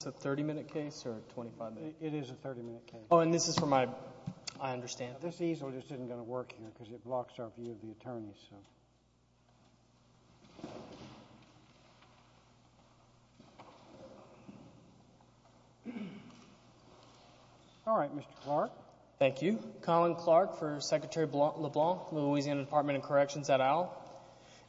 It's a 30-minute case or a 25-minute case? It is a 30-minute case. Oh, and this is for my... I understand. This easel just isn't going to work here because it blocks our view of the attorneys, so... All right, Mr. Clark. Thank you. Colin Clark for Secretary LeBlanc, Louisiana Department of Corrections at OWL.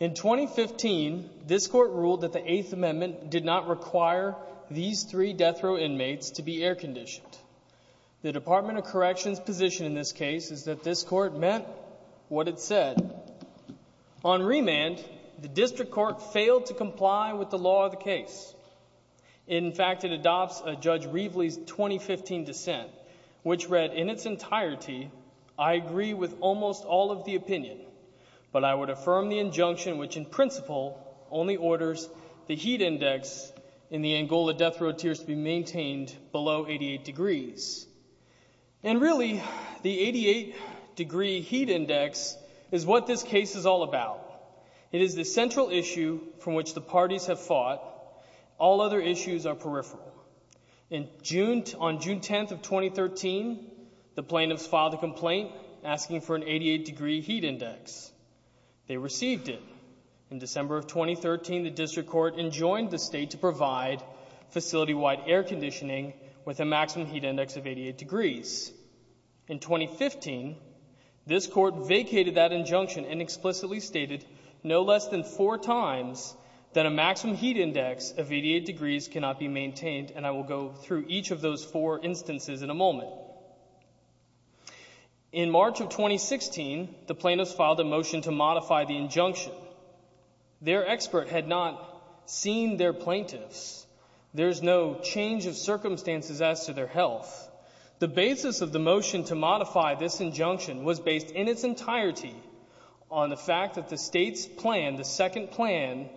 In 2015, this Court ruled that the Eighth Amendment did not require these three death row inmates to be air-conditioned. The Department of Corrections' position in this case is that this Court meant what it said. On remand, the District Court failed to comply with the law of the case. In fact, it adopts a Judge Reveley's 2015 dissent, which read in its entirety, I agree with almost all of the opinion, but I would affirm the injunction which, in principle, only orders the heat index in the Angola death row tiers to be maintained below 88 degrees. And really, the 88-degree heat index is what this case is all about. It is the central issue from which the parties have fought. All other issues are peripheral. On June 10th of 2013, the plaintiffs filed a complaint asking for an 88-degree heat index. They received it. In December of 2013, the District Court enjoined the State to provide facility-wide air conditioning with a maximum heat index of 88 degrees. In 2015, this Court vacated that injunction and explicitly stated no less than four times that a maximum heat index of 88 degrees cannot be maintained, and I will go through each of those four instances in a moment. In March of 2016, the plaintiffs filed a motion to modify the injunction. Their expert had not seen their plaintiffs. There is no change of circumstances as to their health. The basis of the motion to modify this injunction was based in its entirety on the fact that the State's plan, the second plan,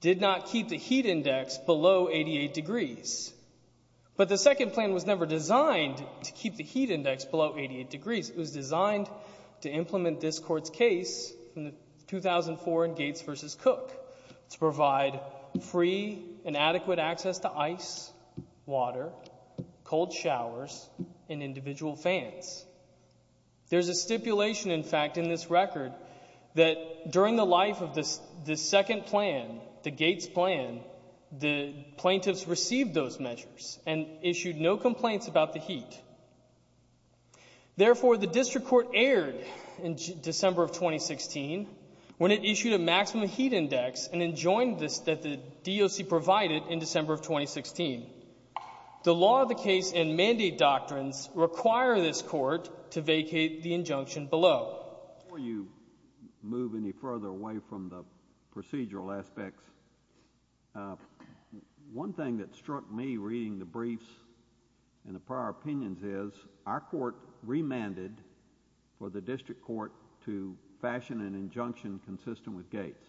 did not keep the heat index below 88 degrees. But the second plan was never designed to keep the heat index below 88 degrees. It was designed to implement this Court's case from 2004 in Gates v. Cook to provide free and adequate access to ice, water, cold showers, and individual fans. There is a stipulation, in fact, in this record that during the life of the second plan, the Gates plan, the plaintiffs received those measures and issued no complaints about the heat. Therefore, the District Court erred in December of 2016 when it issued a maximum heat index and enjoined this that the DOC provided in December of 2016. The law of the case and mandate doctrines require this Court to vacate the injunction below. Before you move any further away from the procedural aspects, one thing that struck me reading the briefs and the prior opinions is our Court remanded for the District Court to fashion an injunction consistent with Gates.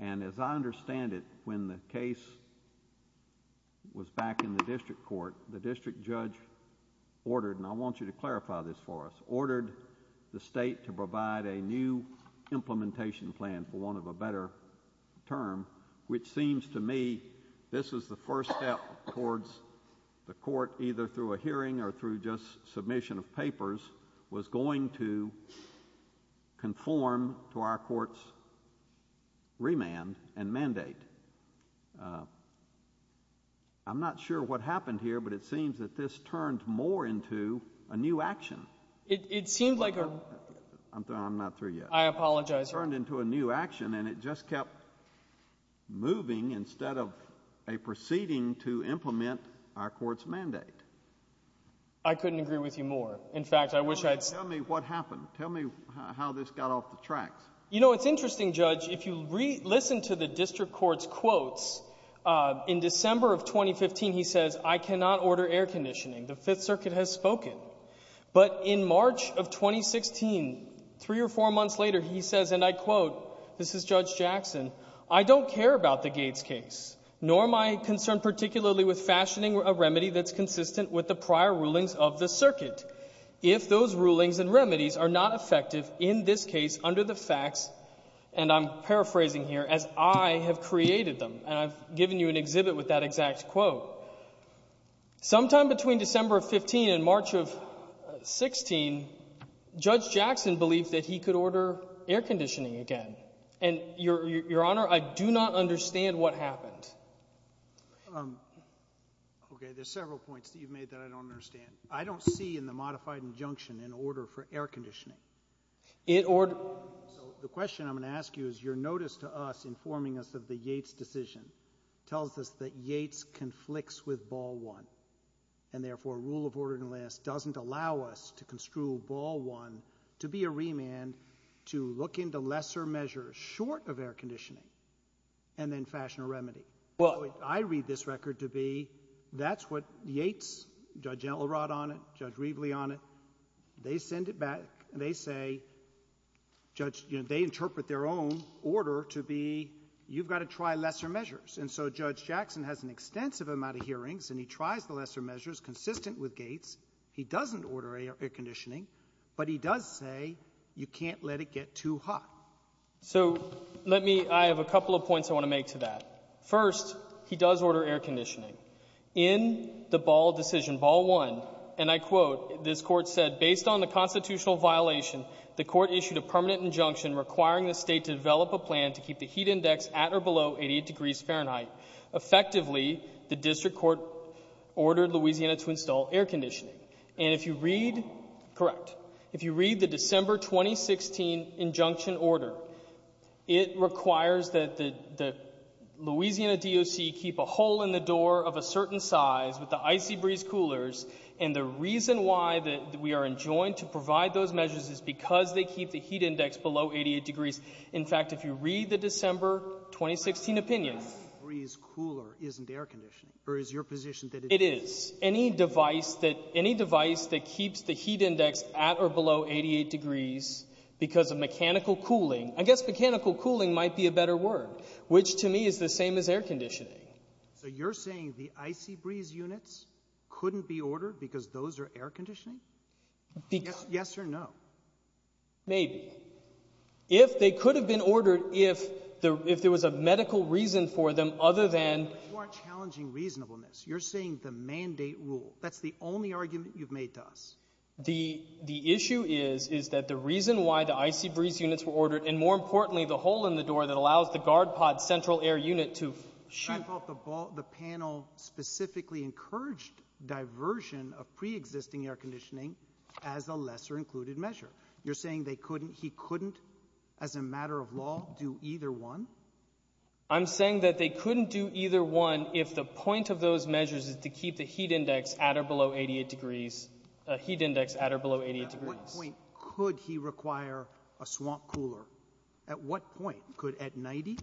As I understand it, when the case was back in the District Court, the District Judge ordered, and I want you to clarify this for us, ordered the State to provide a new implementation plan for want of a better term, which seems to me this is the first step towards the Court either through a hearing or through just submission of papers was going to conform to our Court's remand and mandate. I'm not sure what happened here, but it seems that this turned more into a new action. It seemed like a… I'm not through yet. I apologize. It turned into a new action, and it just kept moving instead of a proceeding to implement our Court's mandate. I couldn't agree with you more. In fact, I wish I had… Tell me what happened. Tell me how this got off the tracks. You know, it's interesting, Judge. If you listen to the District Court's quotes, in December of 2015, he says, I cannot order air conditioning. The Fifth Circuit has spoken. But in March of 2016, three or four months later, he says, and I quote, this is Judge Jackson, I don't care about the Gates case, nor am I concerned particularly with fashioning a remedy that's consistent with the prior rulings of the circuit, if those rulings and remedies are not effective in this case under the facts, and I'm paraphrasing here, as I have created them. And I've given you an exhibit with that exact quote. Sometime between December of 15 and March of 16, Judge Jackson believed that he could order air conditioning again. And, Your Honor, I do not understand what happened. Okay. There's several points that you've made that I don't understand. I don't see in the modified injunction an order for air conditioning. So the question I'm going to ask you is your notice to us informing us of the Yates decision tells us that Yates conflicts with Ball One, and therefore rule of order doesn't allow us to construe Ball One to be a remand to look into lesser measures short of air conditioning and then fashion a remedy. Well, I read this record to be that's what Yates, Judge Enlerod on it, Judge Reveley on it, they send it back and they say, Judge, you know, they interpret their own order to be you've got to try lesser measures. And so Judge Jackson has an extensive amount of hearings and he tries the lesser measures consistent with Gates. He doesn't order air conditioning, but he does say you can't let it get too hot. So let me — I have a couple of points I want to make to that. First, he does order air conditioning. In the Ball decision, Ball One, and I quote, this Court said, based on the constitutional violation, the Court issued a permanent injunction requiring the State to develop a plan to keep the heat index at or below 88 degrees Fahrenheit. Effectively, the District Court ordered Louisiana to install air conditioning. And if you read — correct — if you read the December 2016 injunction order, it requires that the Louisiana DOC keep a hole in the door of a certain size with the icy breeze coolers. And the reason why we are enjoined to provide those measures is because they keep the heat index below 88 degrees. In fact, if you read the December 2016 opinion — The icy breeze cooler isn't air conditioning, or is your position that it is? It is. Any device that — any device that keeps the heat index at or below 88 degrees because of mechanical cooling — I guess mechanical cooling might be a better word, which to me is the same as air conditioning. So you're saying the icy breeze units couldn't be ordered because those are air conditioning? Yes or no? Maybe. If they could have been ordered if there was a medical reason for them other than — You aren't challenging reasonableness. You're saying the mandate rule. That's the only argument you've made to us. The issue is, is that the reason why the icy breeze units were ordered, and more importantly, the hole in the door that allows the guard pod central air unit to shoot — I thought the panel specifically encouraged diversion of preexisting air conditioning as a lesser included measure. You're saying they couldn't — he couldn't, as a matter of law, do either one? I'm saying that they couldn't do either one if the point of those measures is to keep the heat index at or below 88 degrees — heat index at or below 88 degrees. At what point could he require a swamp cooler? At what point? Could — at 90?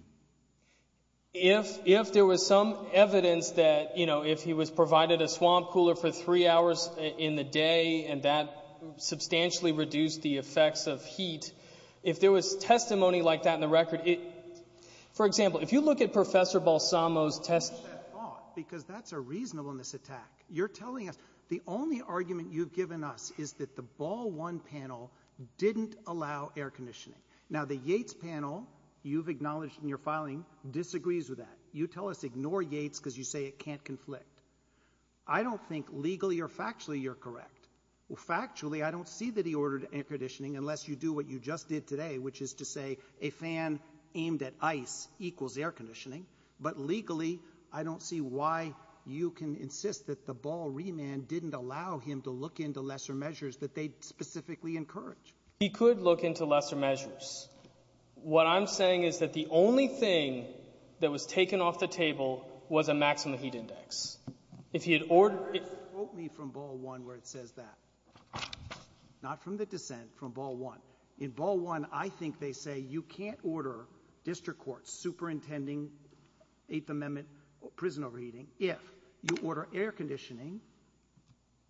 If there was some evidence that, you know, if he was provided a swamp cooler for three hours in the day and that substantially reduced the effects of heat, if there was testimony like that in the record, it — For example, if you look at Professor Balsamo's testimony — I like that thought because that's a reasonableness attack. You're telling us — the only argument you've given us is that the Ball One panel didn't allow air conditioning. Now, the Yates panel, you've acknowledged in your filing, disagrees with that. You tell us ignore Yates because you say it can't conflict. I don't think legally or factually you're correct. Well, factually, I don't see that he ordered air conditioning unless you do what you just did today, which is to say a fan aimed at ice equals air conditioning. But legally, I don't see why you can insist that the Ball remand didn't allow him to look into lesser measures that they specifically encourage. He could look into lesser measures. What I'm saying is that the only thing that was taken off the table was a maximum heat index. If he had ordered — But it broke me from Ball One where it says that. Not from the dissent, from Ball One. In Ball One, I think they say you can't order district courts, superintending, Eighth Amendment, prison overheating, if you order air conditioning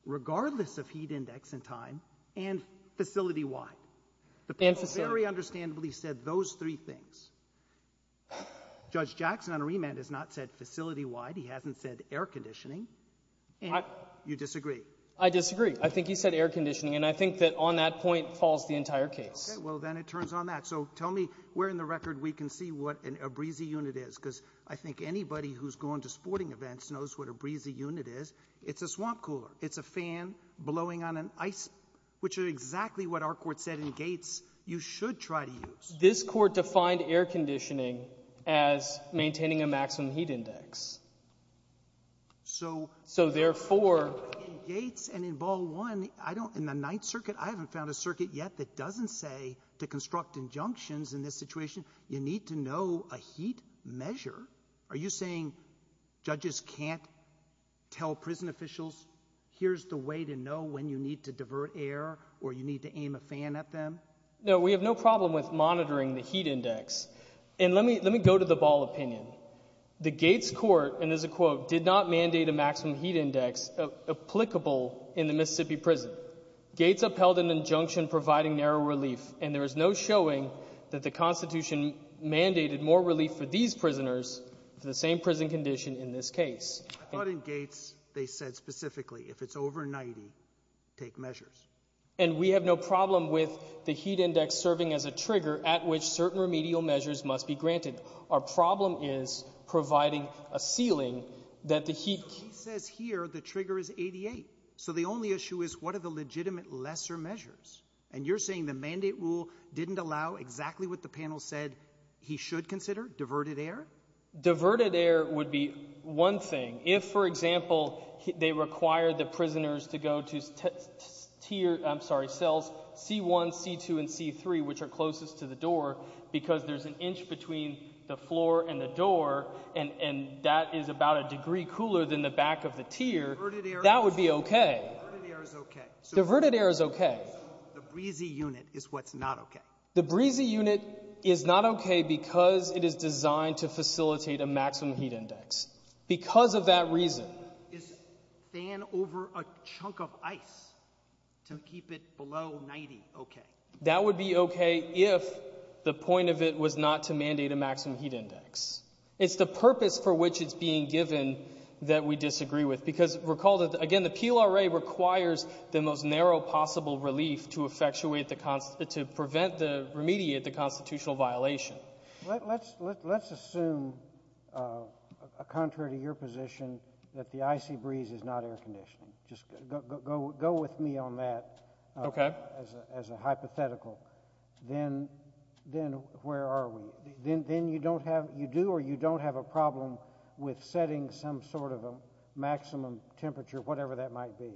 regardless of heat index and time and facility-wide. The prosecutor very understandably said those three things. Judge Jackson on remand has not said facility-wide. He hasn't said air conditioning. You disagree? I disagree. I think he said air conditioning, and I think that on that point falls the entire case. Okay, well, then it turns on that. So tell me where in the record we can see what a breezy unit is because I think anybody who's gone to sporting events knows what a breezy unit is. It's a swamp cooler. It's a fan blowing on an ice — Which is exactly what our court said in Gates you should try to use. This court defined air conditioning as maintaining a maximum heat index. So therefore — In Gates and in Ball One, in the Ninth Circuit, I haven't found a circuit yet that doesn't say to construct injunctions in this situation, you need to know a heat measure. Are you saying judges can't tell prison officials, here's the way to know when you need to divert air or you need to aim a fan at them? No, we have no problem with monitoring the heat index. And let me go to the Ball opinion. The Gates court, and there's a quote, did not mandate a maximum heat index applicable in the Mississippi prison. Gates upheld an injunction providing narrow relief, and there is no showing that the Constitution mandated more relief for these prisoners for the same prison condition in this case. I thought in Gates they said specifically if it's over 90, take measures. And we have no problem with the heat index serving as a trigger at which certain remedial measures must be granted. Our problem is providing a ceiling that the heat — He says here the trigger is 88. So the only issue is what are the legitimate lesser measures? And you're saying the mandate rule didn't allow exactly what the panel said he should consider, diverted air? Diverted air would be one thing. If, for example, they require the prisoners to go to cells C1, C2, and C3, which are closest to the door because there's an inch between the floor and the door, and that is about a degree cooler than the back of the tier, that would be okay. Diverted air is okay. Diverted air is okay. The breezy unit is what's not okay. Because of that reason. Is fan over a chunk of ice to keep it below 90 okay? That would be okay if the point of it was not to mandate a maximum heat index. It's the purpose for which it's being given that we disagree with. Because, recall, again, the PLRA requires the most narrow possible relief to prevent, to remediate the constitutional violation. Let's assume, contrary to your position, that the icy breeze is not air conditioning. Just go with me on that as a hypothetical. Then where are we? Then you do or you don't have a problem with setting some sort of a maximum temperature, whatever that might be.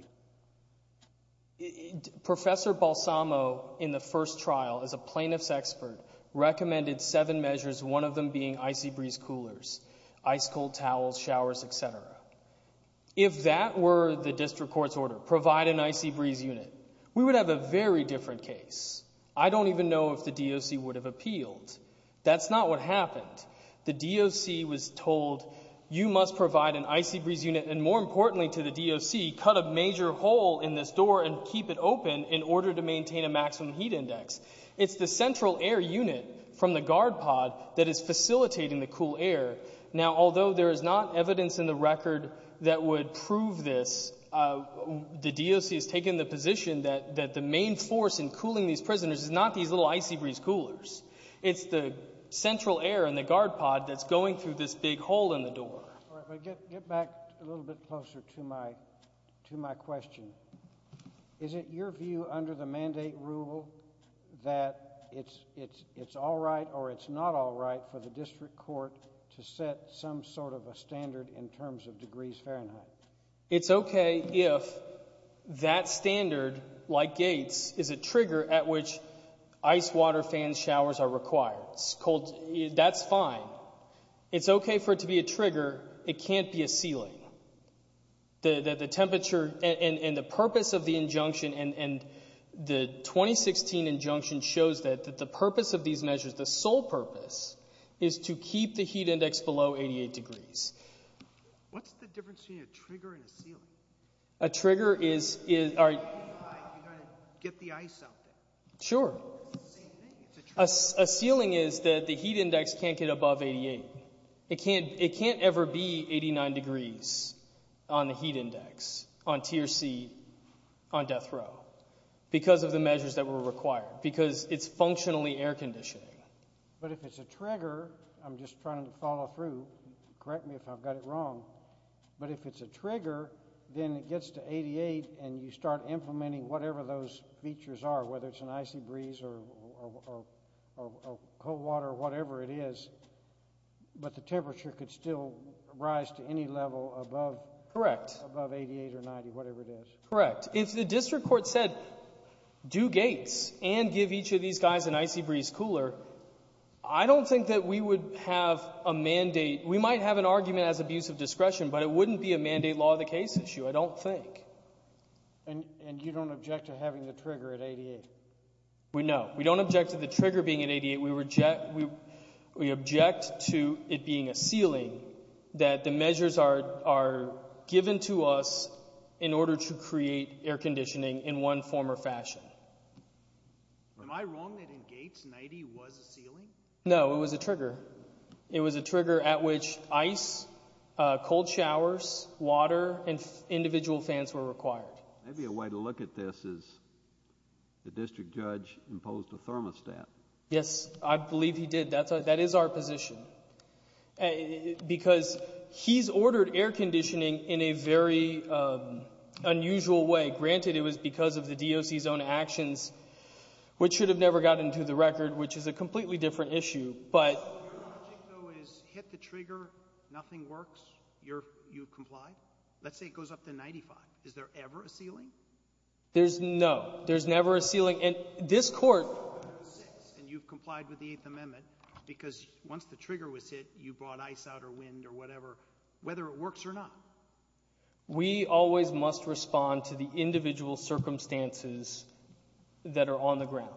Professor Balsamo, in the first trial, as a plaintiff's expert, recommended seven measures, one of them being icy breeze coolers, ice cold towels, showers, et cetera. If that were the district court's order, provide an icy breeze unit, we would have a very different case. I don't even know if the DOC would have appealed. That's not what happened. The DOC was told, you must provide an icy breeze unit, and more importantly to the DOC, cut a major hole in this door and keep it open in order to maintain a maximum heat index. It's the central air unit from the guard pod that is facilitating the cool air. Now, although there is not evidence in the record that would prove this, the DOC has taken the position that the main force in cooling these prisoners is not these little icy breeze coolers. It's the central air in the guard pod that's going through this big hole in the door. Get back a little bit closer to my question. Is it your view under the mandate rule that it's all right or it's not all right for the district court to set some sort of a standard in terms of degrees Fahrenheit? It's okay if that standard, like Gates, is a trigger at which ice water fans, showers are required. That's fine. It's okay for it to be a trigger. It can't be a ceiling. The temperature and the purpose of the injunction, and the 2016 injunction shows that the purpose of these measures, the sole purpose is to keep the heat index below 88 degrees. What's the difference between a trigger and a ceiling? A trigger is— You've got to get the ice out there. Sure. It's the same thing. A ceiling is that the heat index can't get above 88. It can't ever be 89 degrees on the heat index on tier C on death row because of the measures that were required, because it's functionally air conditioning. But if it's a trigger, I'm just trying to follow through. Correct me if I've got it wrong. But if it's a trigger, then it gets to 88, and you start implementing whatever those features are, whether it's an icy breeze or cold water or whatever it is, but the temperature could still rise to any level above 88 or 90, whatever it is. Correct. If the district court said do gates and give each of these guys an icy breeze cooler, I don't think that we would have a mandate. We might have an argument as abuse of discretion, but it wouldn't be a mandate law of the case issue, I don't think. And you don't object to having the trigger at 88? No. We don't object to the trigger being at 88. We object to it being a ceiling that the measures are given to us in order to create air conditioning in one form or fashion. Am I wrong that in Gates, 90 was a ceiling? No, it was a trigger. It was a trigger at which ice, cold showers, water, and individual fans were required. Maybe a way to look at this is the district judge imposed a thermostat. Yes, I believe he did. That is our position. Because he's ordered air conditioning in a very unusual way. Granted, it was because of the DOC's own actions, which should have never gotten to the record, which is a completely different issue. So your logic, though, is hit the trigger, nothing works, you comply? Let's say it goes up to 95. Is there ever a ceiling? There's no. There's never a ceiling. And this court— And you've complied with the Eighth Amendment because once the trigger was hit, you brought ice out or wind or whatever, whether it works or not. We always must respond to the individual circumstances that are on the ground.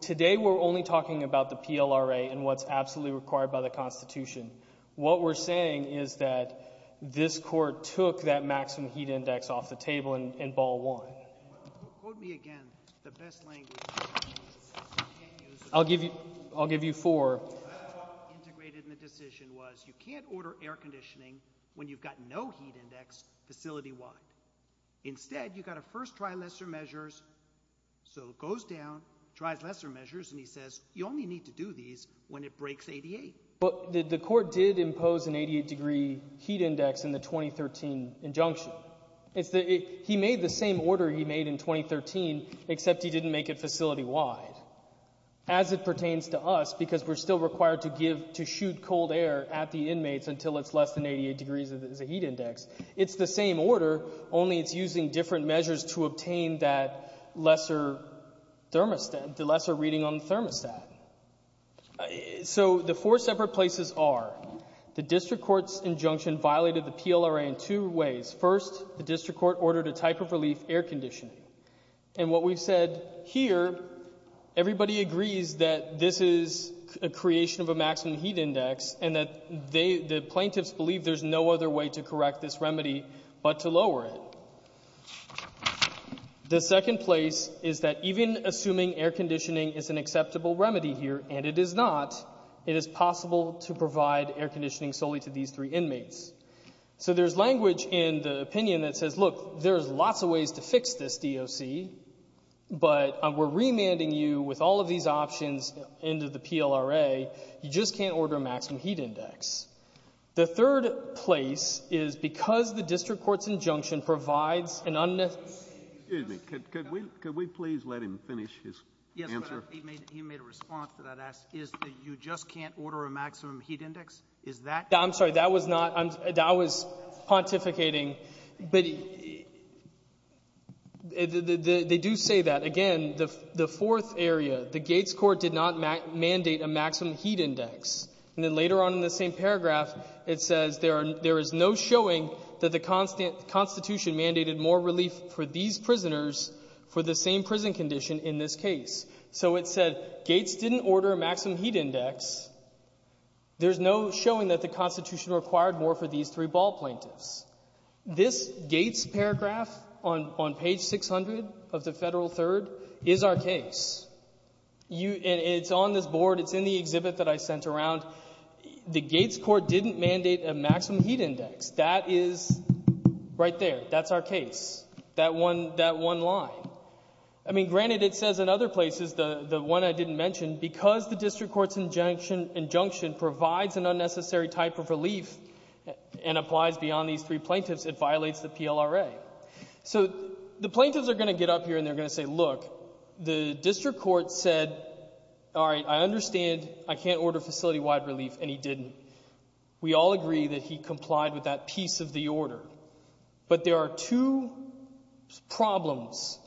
Today we're only talking about the PLRA and what's absolutely required by the Constitution. What we're saying is that this court took that maximum heat index off the table and ball won. Quote me again the best language. I'll give you four. What I thought integrated in the decision was you can't order air conditioning when you've got no heat index facility-wide. Instead, you've got to first try lesser measures. So it goes down, tries lesser measures, and he says, you only need to do these when it breaks 88. But the court did impose an 88-degree heat index in the 2013 injunction. He made the same order he made in 2013, except he didn't make it facility-wide. As it pertains to us, because we're still required to shoot cold air at the inmates until it's less than 88 degrees as a heat index, it's the same order, only it's using different measures to obtain that lesser reading on the thermostat. So the four separate places are the district court's injunction violated the PLRA in two ways. First, the district court ordered a type of relief, air conditioning. And what we've said here, everybody agrees that this is a creation of a maximum heat index and that the plaintiffs believe there's no other way to correct this remedy but to lower it. The second place is that even assuming air conditioning is an acceptable remedy here, and it is not, it is possible to provide air conditioning solely to these three inmates. So there's language in the opinion that says, look, there's lots of ways to fix this DOC, but we're remanding you with all of these options into the PLRA. You just can't order a maximum heat index. The third place is because the district court's injunction provides an unnecessary Excuse me. Could we please let him finish his answer? Yes, but he made a response to that. You just can't order a maximum heat index? I'm sorry. That was not, that was pontificating. But they do say that. Again, the fourth area, the Gates court did not mandate a maximum heat index. And then later on in the same paragraph, it says there is no showing that the Constitution mandated more relief for these prisoners for the same prison condition in this case. So it said Gates didn't order a maximum heat index. There's no showing that the Constitution required more for these three ball plaintiffs. This Gates paragraph on page 600 of the Federal Third is our case. It's on this board. It's in the exhibit that I sent around. The Gates court didn't mandate a maximum heat index. That is right there. That's our case, that one line. I mean, granted, it says in other places, the one I didn't mention, because the district court's injunction provides an unnecessary type of relief and applies beyond these three plaintiffs, it violates the PLRA. So the plaintiffs are going to get up here and they're going to say, look, the district court said, all right, I understand I can't order facility-wide relief, and he didn't. We all agree that he complied with that piece of the order. But there are two problems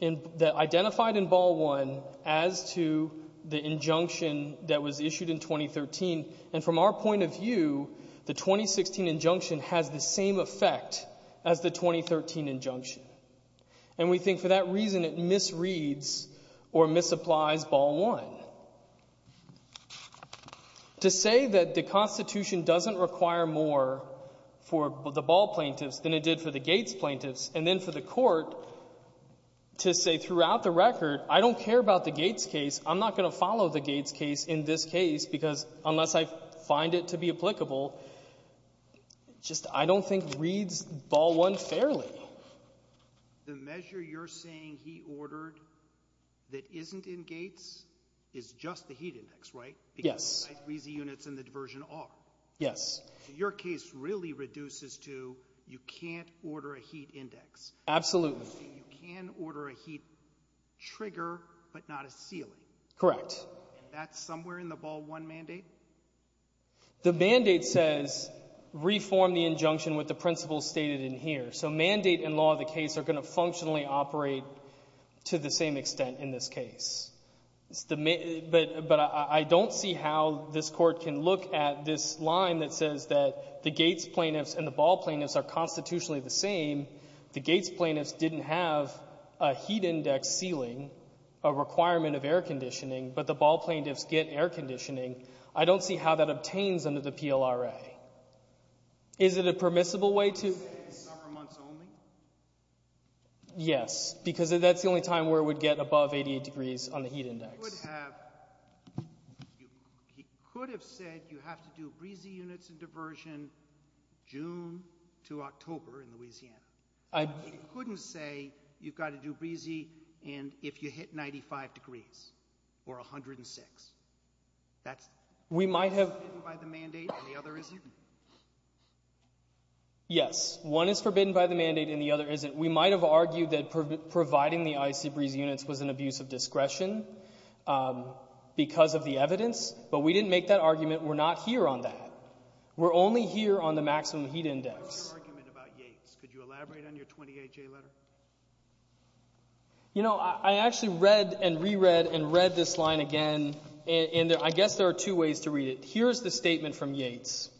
that identified in Ball 1 as to the injunction that was issued in 2013, and from our point of view, the 2016 injunction has the same effect as the 2013 injunction. And we think for that reason, it misreads or misapplies Ball 1. To say that the Constitution doesn't require more for the Ball plaintiffs than it did for the Gates plaintiffs, and then for the court to say throughout the record, I don't care about the Gates case, I'm not going to follow the Gates case in this case, because unless I find it to be applicable, just I don't think it misreads Ball 1 fairly. The measure you're saying he ordered that isn't in Gates is just the heat index, right? Yes. Because the high-freezing units and the diversion are. Yes. Your case really reduces to you can't order a heat index. Absolutely. You can order a heat trigger, but not a ceiling. Correct. And that's somewhere in the Ball 1 mandate? The mandate says reform the injunction with the principles stated in here. So mandate and law of the case are going to functionally operate to the same extent in this case. But I don't see how this Court can look at this line that says that the Gates plaintiffs and the Ball plaintiffs are constitutionally the same. The Gates plaintiffs didn't have a heat index ceiling, a requirement of air conditioning. I don't see how that obtains under the PLRA. Is it a permissible way to? You're saying summer months only? Yes. Because that's the only time where it would get above 88 degrees on the heat index. He could have said you have to do breezy units and diversion June to October in Louisiana. He couldn't say you've got to do breezy if you hit 95 degrees or 106. That's forbidden by the mandate and the other isn't? Yes. One is forbidden by the mandate and the other isn't. We might have argued that providing the icy breezy units was an abuse of discretion because of the evidence, but we didn't make that argument. We're not here on that. We're only here on the maximum heat index. What was your argument about Yates? Could you elaborate on your 28-J letter? You know, I actually read and reread and read this line again, and I guess there are two ways to read it. Here's the statement from Yates.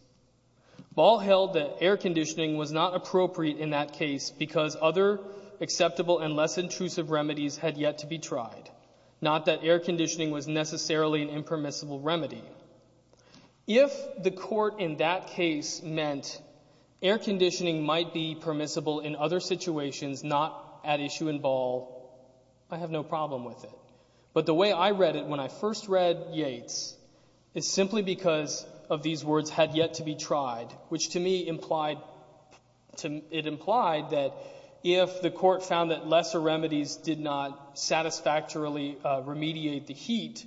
Ball held that air conditioning was not appropriate in that case because other acceptable and less intrusive remedies had yet to be tried, not that air conditioning was necessarily an impermissible remedy. If the court in that case meant air conditioning might be permissible in other situations, not at issue in Ball, I have no problem with it. But the way I read it when I first read Yates is simply because of these words, had yet to be tried, which to me implied that if the court found that lesser remedies did not satisfactorily remediate the heat,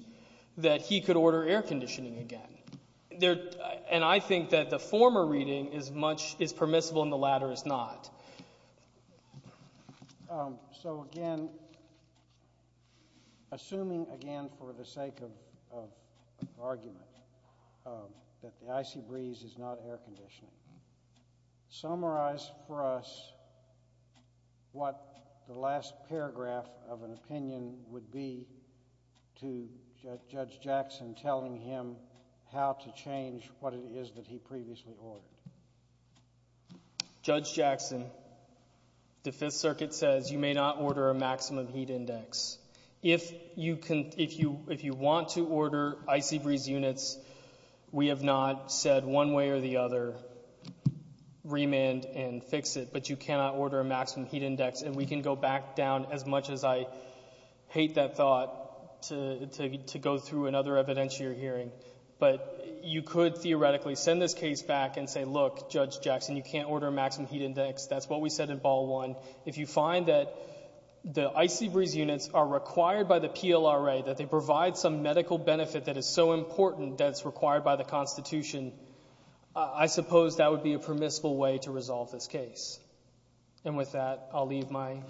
that he could order air conditioning again. And I think that the former reading is permissible and the latter is not. So again, assuming again for the sake of argument that the icy breeze is not air conditioning, summarize for us what the last paragraph of an opinion would be to Judge Jackson telling him how to change what it is that he previously ordered. Judge Jackson, the Fifth Circuit says you may not order a maximum heat index. If you want to order icy breeze units, we have not said one way or the other remand and fix it, but you cannot order a maximum heat index. And we can go back down as much as I hate that thought to go through another evidentiary hearing. But you could theoretically send this case back and say, look, Judge Jackson, you can't order a maximum heat index. That's what we said in Ball 1. If you find that the icy breeze units are required by the PLRA, that they provide some medical benefit that is so important that it's required by the Constitution, I suppose that would be a permissible way to resolve this case. And with that, I'll leave my,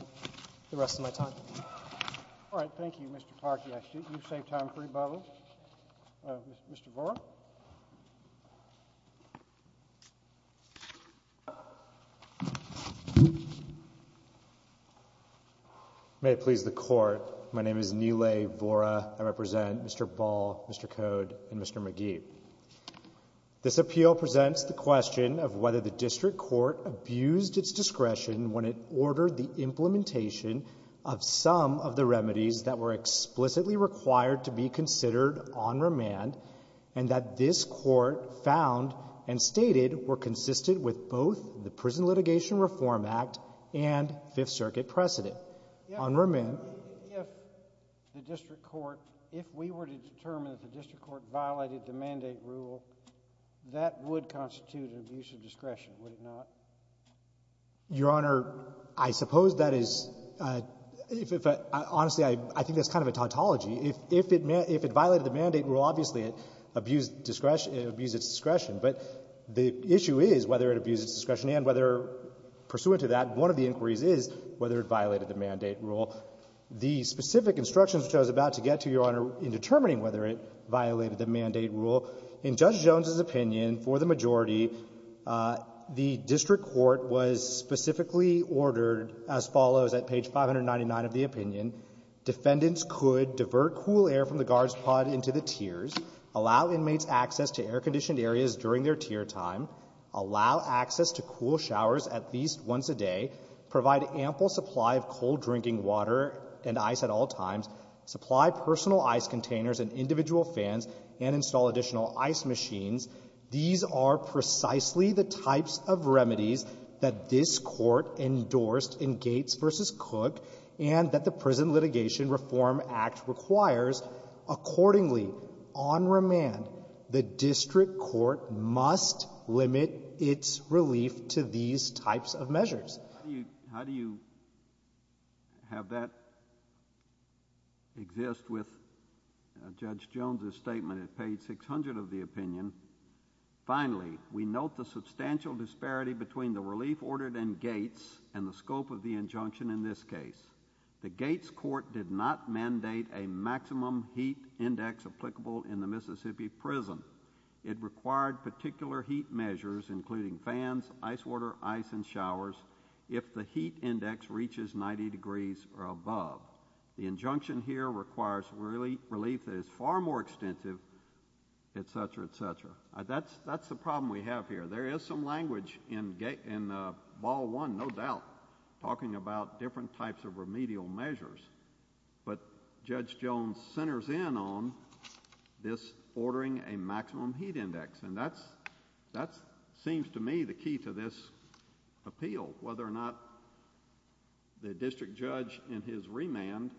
the rest of my time. All right. Thank you, Mr. Park. You saved time for rebuttal. Mr. Vora? May it please the Court, my name is Neelay Vora. I represent Mr. Ball, Mr. Code, and Mr. McGee. This appeal presents the question of whether the district court abused its discretion when it ordered the implementation of some of the remedies that were explicitly required to be considered on remand and that this court found and stated were consistent with both the Prison Litigation Reform Act and Fifth Circuit precedent. On remand... If the district court, if we were to determine that the district court violated the mandate rule, that would constitute an abuse of discretion, would it not? Your Honor, I suppose that is, honestly, I think that's kind of a tautology. If it violated the mandate rule, obviously it abused discretion, it abused its discretion, but the issue is whether it abused its discretion and whether, pursuant to that, one of the inquiries is whether it violated the mandate rule. The specific instructions which I was about to get to, Your Honor, in determining whether it violated the mandate rule, in Judge Jones's opinion, for the majority, the district court was specifically ordered as follows at page 599 of the opinion. Defendants could divert cool air from the guards pod into the tiers, allow inmates access to air-conditioned areas during their tier time, allow access to cool showers at least once a day, provide ample supply of cold-drinking water and ice at all times, supply personal ice containers and individual fans, and install additional ice machines. These are precisely the types of remedies that this Court endorsed in Gates v. Cook and that the Prison Litigation Reform Act requires. Accordingly, on remand, the district court must limit its relief to these types of measures. How do you have that exist with Judge Jones's statement at page 600 of the opinion? Finally, we note the substantial disparity between the relief ordered in Gates and the scope of the injunction in this case. The Gates court did not mandate a maximum heat index applicable in the Mississippi prison. It required particular heat measures, including fans, ice water, ice, and showers, if the heat index reaches 90 degrees or above. The injunction here requires relief that is far more extensive, etc., etc. That's the problem we have here. There is some language in Ball One, no doubt, talking about different types of remedial measures, but Judge Jones centers in on this ordering a maximum heat index. And that seems to me the key to this appeal, whether or not the district judge in his remand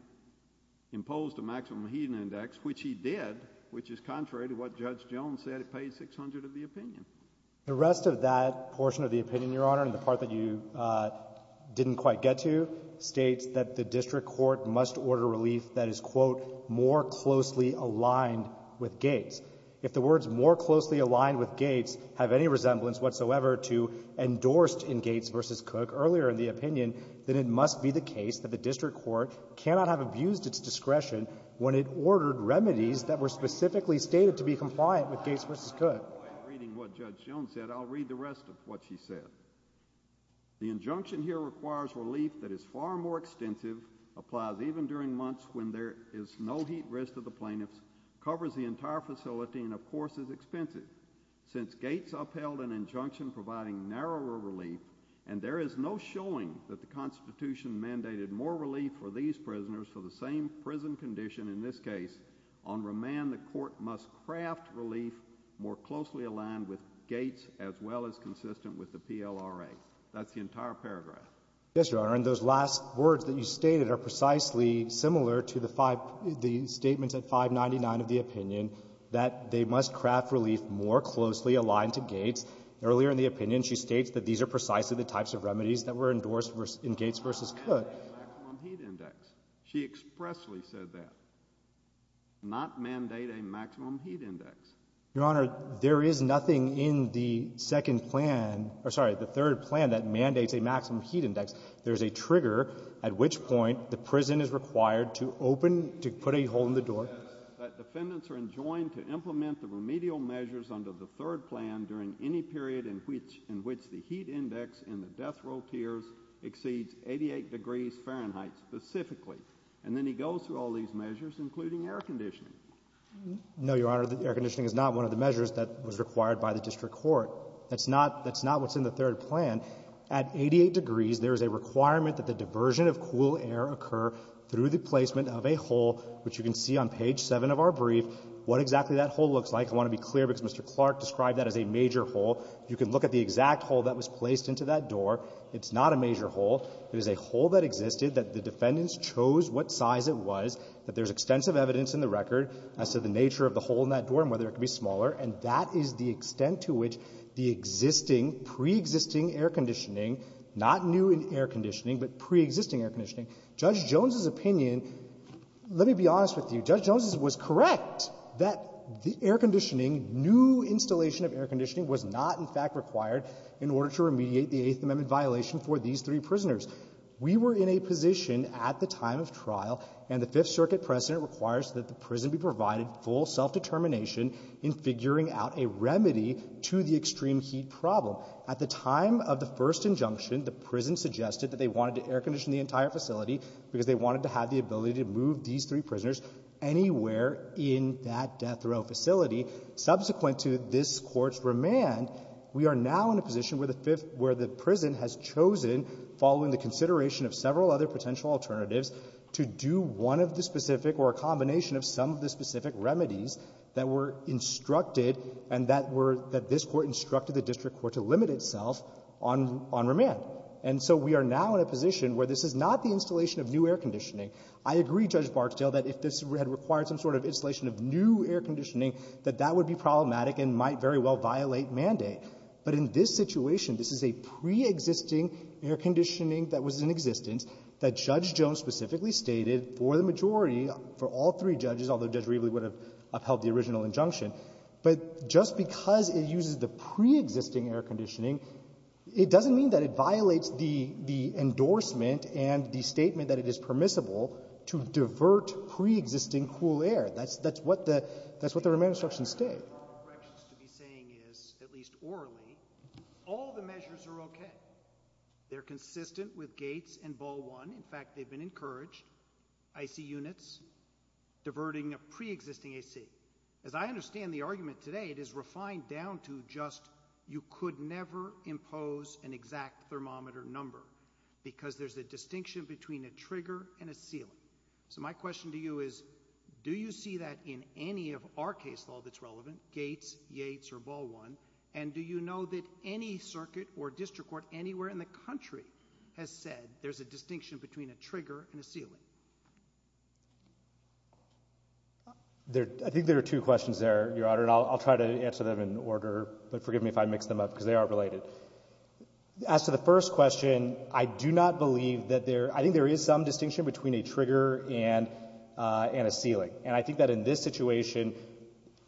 imposed a maximum heat index, which he did, which is contrary to what Judge Jones said at page 600 of the opinion. The rest of that portion of the opinion, Your Honor, and the part that you didn't quite get to, states that the district court must order relief that is more closely aligned with Gates. If the words more closely aligned with Gates have any resemblance whatsoever to endorsed in Gates v. Cook earlier in the opinion, then it must be the case that the district court cannot have abused its discretion when it ordered remedies that were specifically stated to be compliant with Gates v. Cook. I'll read the rest of what she said. The injunction here requires relief that is far more extensive, applies even during months when there is no heat risk to the plaintiffs, covers the entire facility, and, of course, is expensive. Since Gates upheld an injunction providing narrower relief, and there is no showing that the Constitution mandated more relief for these prisoners for the same prison condition, in this case, on remand, the court must craft relief more closely aligned with Gates as well as consistent with the PLRA. That's the entire paragraph. Yes, Your Honor, and those last words that you stated are precisely similar to the statements at 599 of the opinion that they must craft relief more closely aligned to Gates. Earlier in the opinion, she states that these are precisely the types of remedies that were endorsed in Gates v. Cook. She expressly said that, not mandate a maximum heat index. Your Honor, there is nothing in the second plan or, sorry, the third plan that mandates a heat index. There is a trigger at which point the prison is required to open, to put a hole in the door. That defendants are enjoined to implement the remedial measures under the third plan during any period in which the heat index in the death row tiers exceeds 88 degrees Fahrenheit specifically. And then he goes through all these measures, including air conditioning. No, Your Honor, the air conditioning is not one of the measures that was required by the district court. That's not what's in the third plan. At 88 degrees, there is a requirement that the diversion of cool air occur through the placement of a hole, which you can see on page 7 of our brief, what exactly that hole looks like. I want to be clear, because Mr. Clark described that as a major hole. You can look at the exact hole that was placed into that door. It's not a major hole. It is a hole that existed, that the defendants chose what size it was, that there's extensive evidence in the record as to the nature of the hole in that door and whether it could be smaller. And that is the extent to which the existing, preexisting air conditioning not new in air conditioning, but preexisting air conditioning. Judge Jones's opinion, let me be honest with you, Judge Jones was correct that the air conditioning, new installation of air conditioning was not in fact required in order to remediate the Eighth Amendment violation for these three prisoners. We were in a position at the time of trial, and the Fifth Circuit precedent requires that the prison be provided full self-determination in figuring out a remedy to the extreme heat problem. At the time of the first injunction, the prison suggested that they wanted to air condition the entire facility because they wanted to have the ability to move these three prisoners anywhere in that death row facility. Subsequent to this Court's remand, we are now in a position where the prison has to do one of the specific or a combination of some of the specific remedies that were instructed and that were that this Court instructed the district court to limit itself on remand. And so we are now in a position where this is not the installation of new air conditioning. I agree, Judge Barksdale, that if this had required some sort of installation of new air conditioning, that that would be problematic and might very well violate mandate. But in this situation, this is a preexisting air conditioning that was in existence that Judge Jones specifically stated for the majority, for all three judges, although Judge Reveley would have upheld the original injunction. But just because it uses the preexisting air conditioning, it doesn't mean that it violates the endorsement and the statement that it is permissible to divert preexisting cool air. That's what the remand instructions state. All the measures are okay. They're consistent with Gates and Ball One. In fact, they've been encouraged. IC units, diverting of preexisting AC. As I understand the argument today, it is refined down to just you could never impose an exact thermometer number because there's a distinction between a trigger and a sealant. So my question to you is, do you see that in any of our case law that's relevant, Gates, Yates, or Ball One, and do you know that any circuit or district court anywhere in the country has said there's a distinction between a trigger and a sealant? I think there are two questions there, Your Honor, and I'll try to answer them in order, but forgive me if I mix them up because they are related. As to the first question, I do not believe that there, I think there is some distinction between a trigger and a sealant. And I think that in this situation,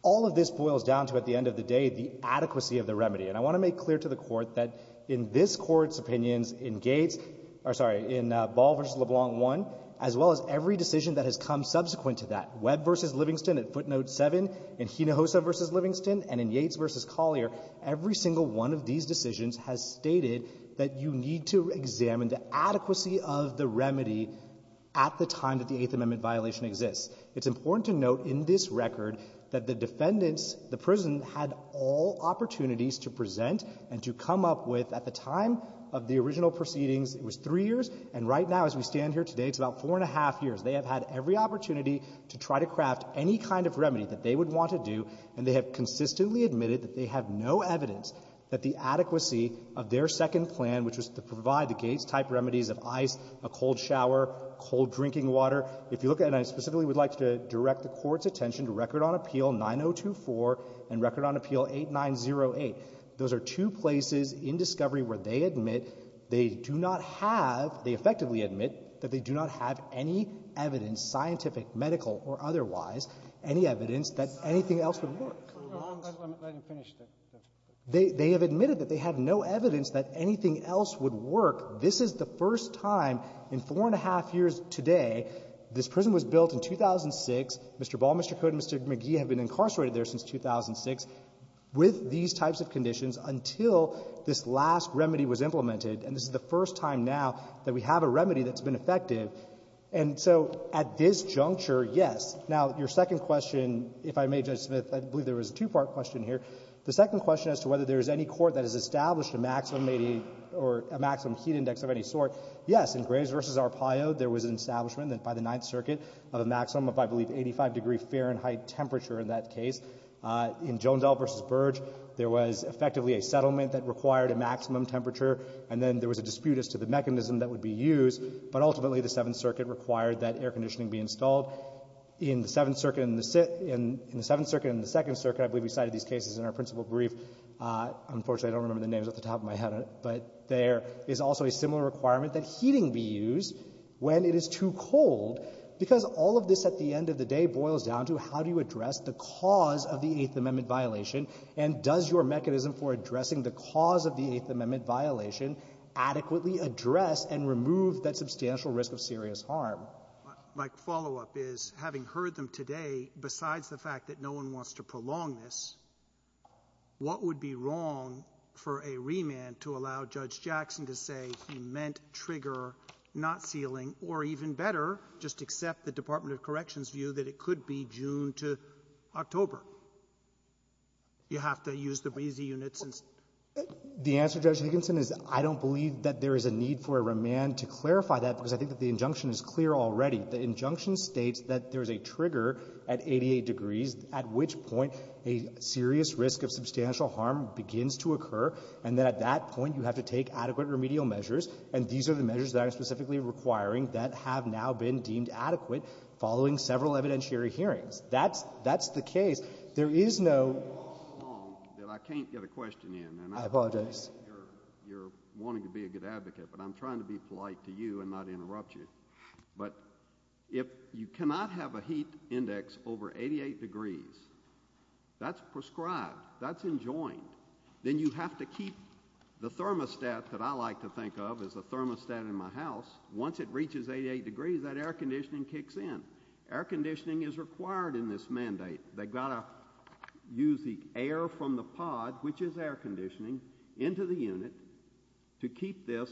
all of this boils down to, at the end of the day, the adequacy of the remedy. And I want to make clear to the Court that in this Court's opinions in Gates, or sorry, in Ball v. LeBlanc One, as well as every decision that has come subsequent to that, Webb v. Livingston at footnote seven, in Hinojosa v. Livingston, and in Yates v. Collier, every single one of these decisions has stated that you need to examine the adequacy of the remedy at the time that the Eighth Amendment violation exists. It's important to note in this record that the defendants, the prison, had all opportunities to present and to come up with, at the time of the original proceedings, it was three years, and right now as we stand here today, it's about four and a half years. They have had every opportunity to try to craft any kind of remedy that they would want to do, and they have consistently admitted that they have no evidence that the adequacy of their second plan, which was to provide the Gates-type remedies of ice, a cold shower, cold drinking water. If you look at it, and I specifically would like to direct the Court's attention to Record on Appeal 9024 and Record on Appeal 8908. Those are two places in discovery where they admit they do not have, they effectively admit, that they do not have any evidence, scientific, medical, or otherwise, any evidence that anything else would work. They have admitted that they have no evidence that anything else would work. This is the first time in four and a half years today, this prison was built in 2006. Mr. Ball, Mr. Cote, and Mr. McGee have been incarcerated there since 2006 with these types of conditions until this last remedy was implemented, and this is the first time now that we have a remedy that's been effective. And so at this juncture, yes. Now, your second question, if I may, Judge Smith, I believe there was a two-part question here. The second question as to whether there is any court that has established a maximum heat index of any sort, yes, in Graves v. Arpaio, there was an establishment that by the Ninth Circuit of a maximum of, I believe, 85 degree Fahrenheit temperature in that case. In Jondell v. Burge, there was effectively a settlement that required a maximum temperature, and then there was a dispute as to the mechanism that would be used, but ultimately the Seventh Circuit required that air conditioning be installed. In the Seventh Circuit and the Second Circuit, I believe we cited these cases in our principal brief. Unfortunately, I don't remember the names off the top of my head, but there is also a similar requirement that heating be used when it is too cold, because all of this at the end of the day boils down to how do you address the cause of the Eighth Amendment violation, and does your mechanism for addressing the cause of the Eighth Amendment violate substantial risk of serious harm? Roberts. My follow-up is, having heard them today, besides the fact that no one wants to prolong this, what would be wrong for a remand to allow Judge Jackson to say he meant trigger, not sealing, or even better, just accept the Department of Corrections view that it could be June to October? You have to use the breezy unit since — I don't believe that there is a need for a remand to clarify that, because I think that the injunction is clear already. The injunction states that there is a trigger at 88 degrees, at which point a serious risk of substantial harm begins to occur, and that at that point you have to take adequate remedial measures, and these are the measures that I'm specifically requiring that have now been deemed adequate following several evidentiary hearings. That's the case. There is no — You're wanting to be a good advocate, but I'm trying to be polite to you and not interrupt you. But if you cannot have a heat index over 88 degrees, that's prescribed, that's enjoined. Then you have to keep the thermostat that I like to think of as the thermostat in my house. Once it reaches 88 degrees, that air conditioning kicks in. Air conditioning is required in this mandate. They've got to use the air from the pod, which is air conditioning, into the unit to keep this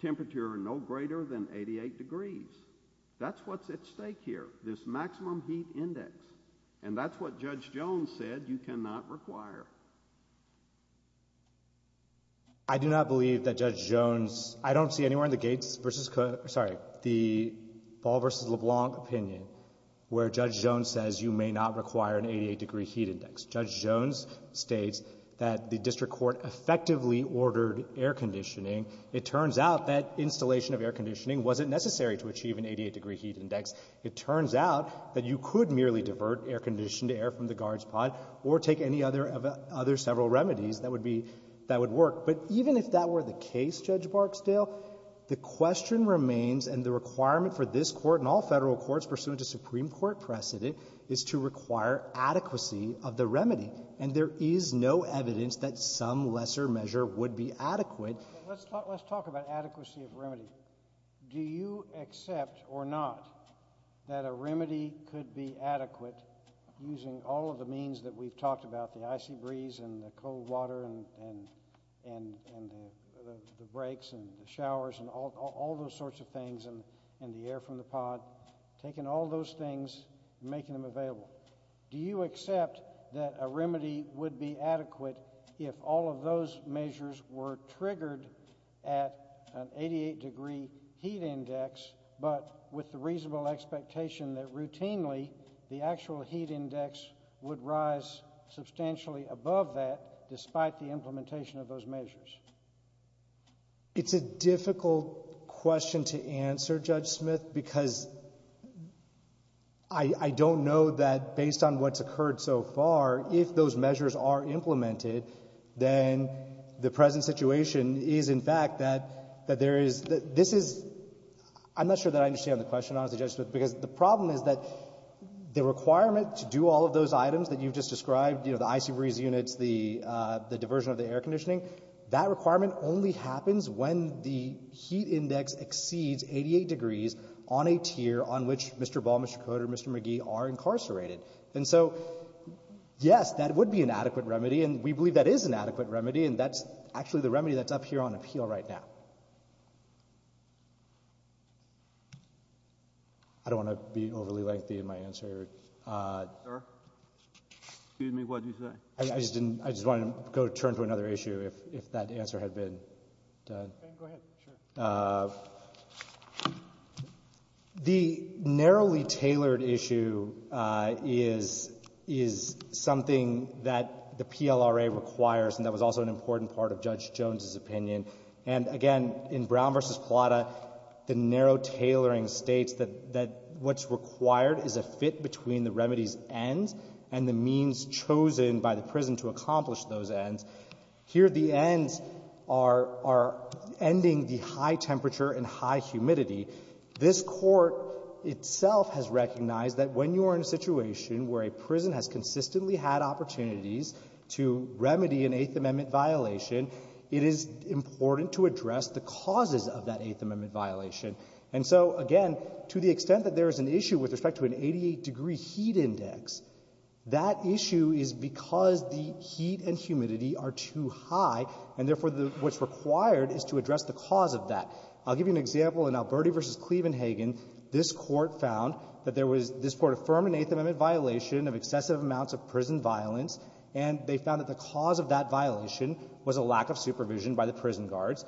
temperature no greater than 88 degrees. That's what's at stake here, this maximum heat index. And that's what Judge Jones said you cannot require. I do not believe that Judge Jones — I don't see anywhere in the Gates v. — sorry, the Ball v. LeBlanc opinion where Judge Jones says you may not require an 88-degree heat index, that the district court effectively ordered air conditioning. It turns out that installation of air conditioning wasn't necessary to achieve an 88-degree heat index. It turns out that you could merely divert air-conditioned air from the guard's pod or take any other several remedies that would be — that would work. But even if that were the case, Judge Barksdale, the question remains and the requirement for this Court and all federal courts pursuant to Supreme Court precedent is to require adequacy of the remedy. And there is no evidence that some lesser measure would be adequate. Let's talk about adequacy of remedy. Do you accept or not that a remedy could be adequate using all of the means that we've talked about, the icy breeze and the cold and all those sorts of things and the air from the pod, taking all those things and making them available? Do you accept that a remedy would be adequate if all of those measures were triggered at an 88-degree heat index but with the reasonable expectation that routinely the actual heat index would rise substantially above that despite the difficult question to answer, Judge Smith, because I don't know that based on what's occurred so far, if those measures are implemented, then the present situation is, in fact, that there is — this is — I'm not sure that I understand the question, honestly, Judge Smith, because the problem is that the requirement to do all of those items that you've just described, you know, the icy breeze units, the diversion of the air conditioning, that requirement only happens when the heat index exceeds 88 degrees on a tier on which Mr. Ball, Mr. Cote, or Mr. McGee are incarcerated. And so, yes, that would be an adequate remedy, and we believe that is an adequate remedy, and that's actually the remedy that's up here on appeal right now. I don't want to be overly lengthy in my answer. Sir? Excuse me. What did you say? I just didn't — I just wanted to go turn to another issue if that answer had been done. Okay. Go ahead. Sure. The narrowly tailored issue is something that the PLRA requires, and that was also an important part of Judge Jones's opinion. And again, in Brown v. Plata, the narrow tailoring states that what's required is a fit between the remedy's ends and the means chosen by the prison to accomplish those ends. Here the ends are ending the high temperature and high humidity. This Court itself has recognized that when you are in a situation where a prison has consistently had opportunities to remedy an Eighth Amendment violation, it is important to address the causes of that Eighth Amendment violation. And so, again, to the extent that there is an issue with respect to an 88-degree heat index, that issue is because the heat and humidity are too high, and therefore, what's required is to address the cause of that. I'll give you an example. In Alberti v. Clevenhagen, this Court found that there was — this Court affirmed an Eighth Amendment violation of excessive amounts of prison violence, and they found that the cause of that violation was a lack of supervision by the prison guards.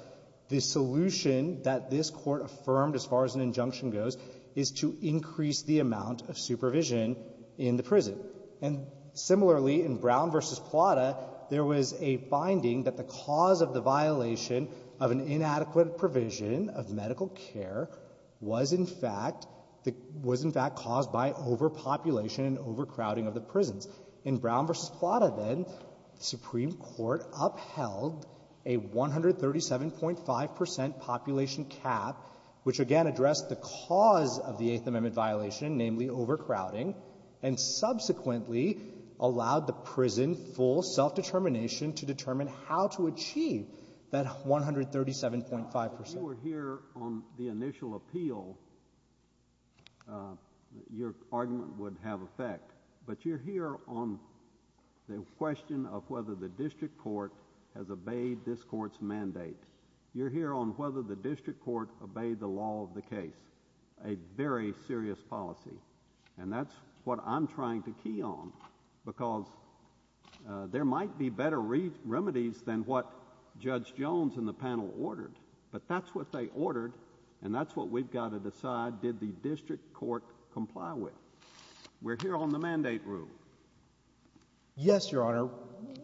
The solution that this Court affirmed as far as an injunction goes is to increase the amount of supervision in the prison. And similarly, in Brown v. Plata, there was a finding that the cause of the violation of an inadequate provision of medical care was in fact — was in fact caused by overpopulation and overcrowding of the prisons. In Brown v. Plata, then, the Supreme Court upheld a 137.5 percent population cap, which again addressed the cause of the Eighth Amendment violation, namely overcrowding, and subsequently allowed the prison full self-determination to determine how to achieve that 137.5 percent. If you were here on the initial appeal, your argument would have effect. But you're here on the question of whether the district court has obeyed this Court's mandate. You're here on whether the district court obeyed the law of the case, a very serious policy. And that's what I'm trying to key on, because there might be better remedies than what Judge Jones and the panel ordered, but that's what they ordered, and that's what we've got to decide, did the district court comply with? We're here on the mandate rule. Yes, Your Honor.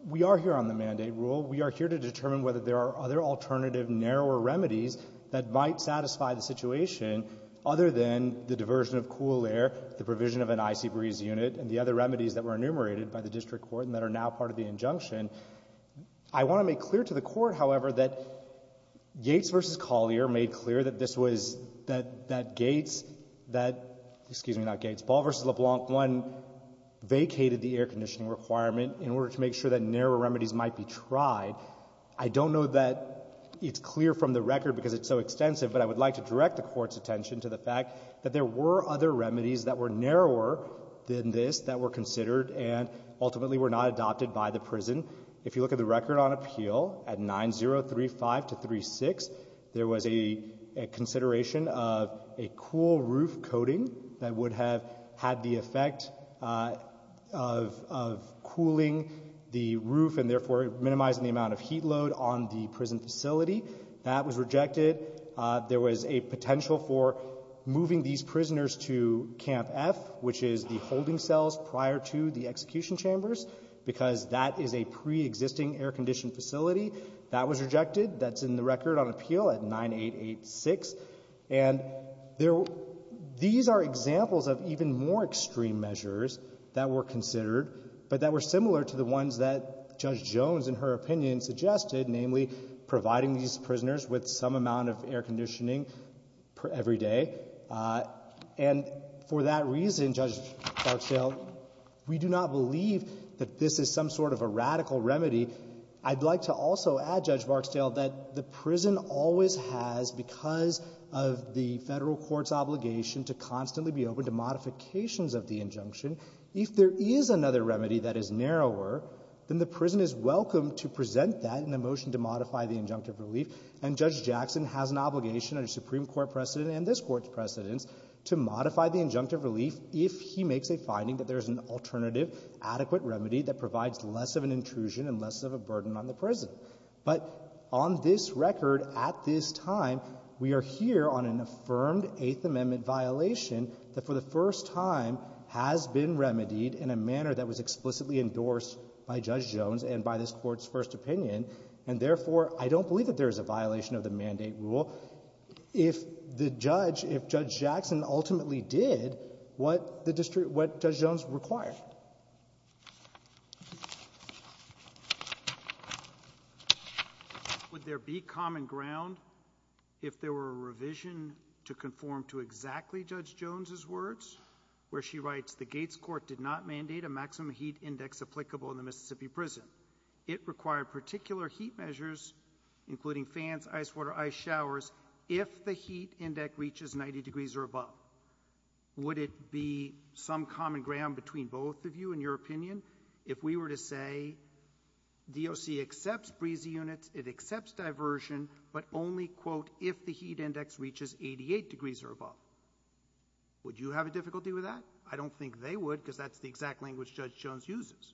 We are here on the mandate rule. We are here to determine whether there are other alternative, narrower remedies that might satisfy the situation other than the diversion of cool air, the provision of an icy breeze unit, and the other remedies that were enumerated by the district court and that are now part of the injunction. I want to make clear to the Court, however, that Gates v. Collier made clear that this was that Gates, that, excuse me, not Gates, Ball v. LeBlanc, one, vacated the air conditioning requirement in order to make sure that narrower remedies might be tried. I don't know that it's clear from the record because it's so extensive, but I would like to direct the Court's attention to the fact that there were other remedies that were narrower than this that were considered and ultimately were not adopted by the prison. If you look at the record on appeal at 9035-36, there was a consideration of a cool roof coating that would have had the effect of cooling the roof and therefore minimizing the amount of heat load on the prison facility. That was rejected. There was a potential for moving these prisoners to Camp F, which is the holding cells prior to the execution chambers, because that is a preexisting air-conditioned facility. That was rejected. That's in the record on appeal at 9886. And these are examples of even more extreme measures that were considered, but that were similar to the ones that Judge Jones, in her opinion, suggested, namely, providing these prisoners with some amount of air conditioning every day. And for that reason, Judge Barksdale, we do not believe that this is some sort of a radical remedy. I'd like to also add, Judge Barksdale, that the prison always has, because of the Federal court's obligation to constantly be open to modifications of the injunction, if there is another remedy that is narrower, then the prison is welcome to present that in the motion to modify the injunctive relief. And Judge Jackson has an obligation under Supreme Court precedent and this Court's precedence to modify the injunctive relief if he makes a finding that there is an alternative, adequate remedy that provides less of an intrusion and less of a burden on the prison. But on this record, at this time, we are here on an affirmed Eighth Amendment violation that for the first time has been remedied in a manner that was explicitly endorsed by Judge Jones and by this Court's first opinion. And therefore, I don't believe that there is a violation of the mandate rule. If the judge, if Judge Jackson ultimately did, what the district, what Judge Jones required? Would there be common ground if there were a revision to conform to exactly Judge Jones's words, where she writes, the Gates court did not mandate a maximum heat index applicable in the Mississippi prison. It required particular heat measures, including fans, ice water, ice showers, if the heat index reaches 90 degrees or above. Would it be some common ground between both of you, in your opinion, if we were to say, DOC accepts breezy units, it accepts diversion, but only, quote, if the heat index reaches 88 degrees or above. Would you have a difficulty with that? I don't think they would, because that's the exact language Judge Jones uses.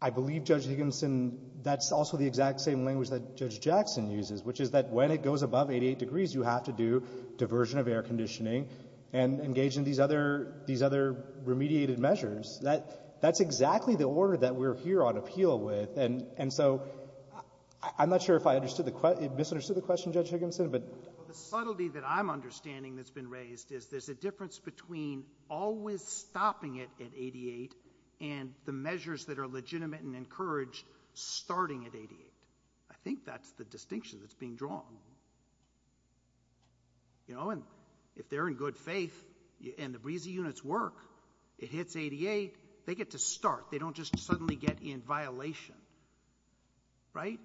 I believe, Judge Higginson, that's also the exact same language that Judge Jackson uses, which is that when it goes above 88 degrees, you have to do diversion of air conditioning and engage in these other, these other remediated measures. That's exactly the order that we're here on appeal with. And so, I'm not sure if I understood the question, Judge Higginson, but... The subtlety that I'm understanding that's been raised is there's a difference between always stopping it at 88 and the measures that are legitimate and encouraged starting at 88. I think that's the distinction that's being drawn. You know, and if they're in good faith and the breezy units work, it hits 88, they get to start. They don't just suddenly get in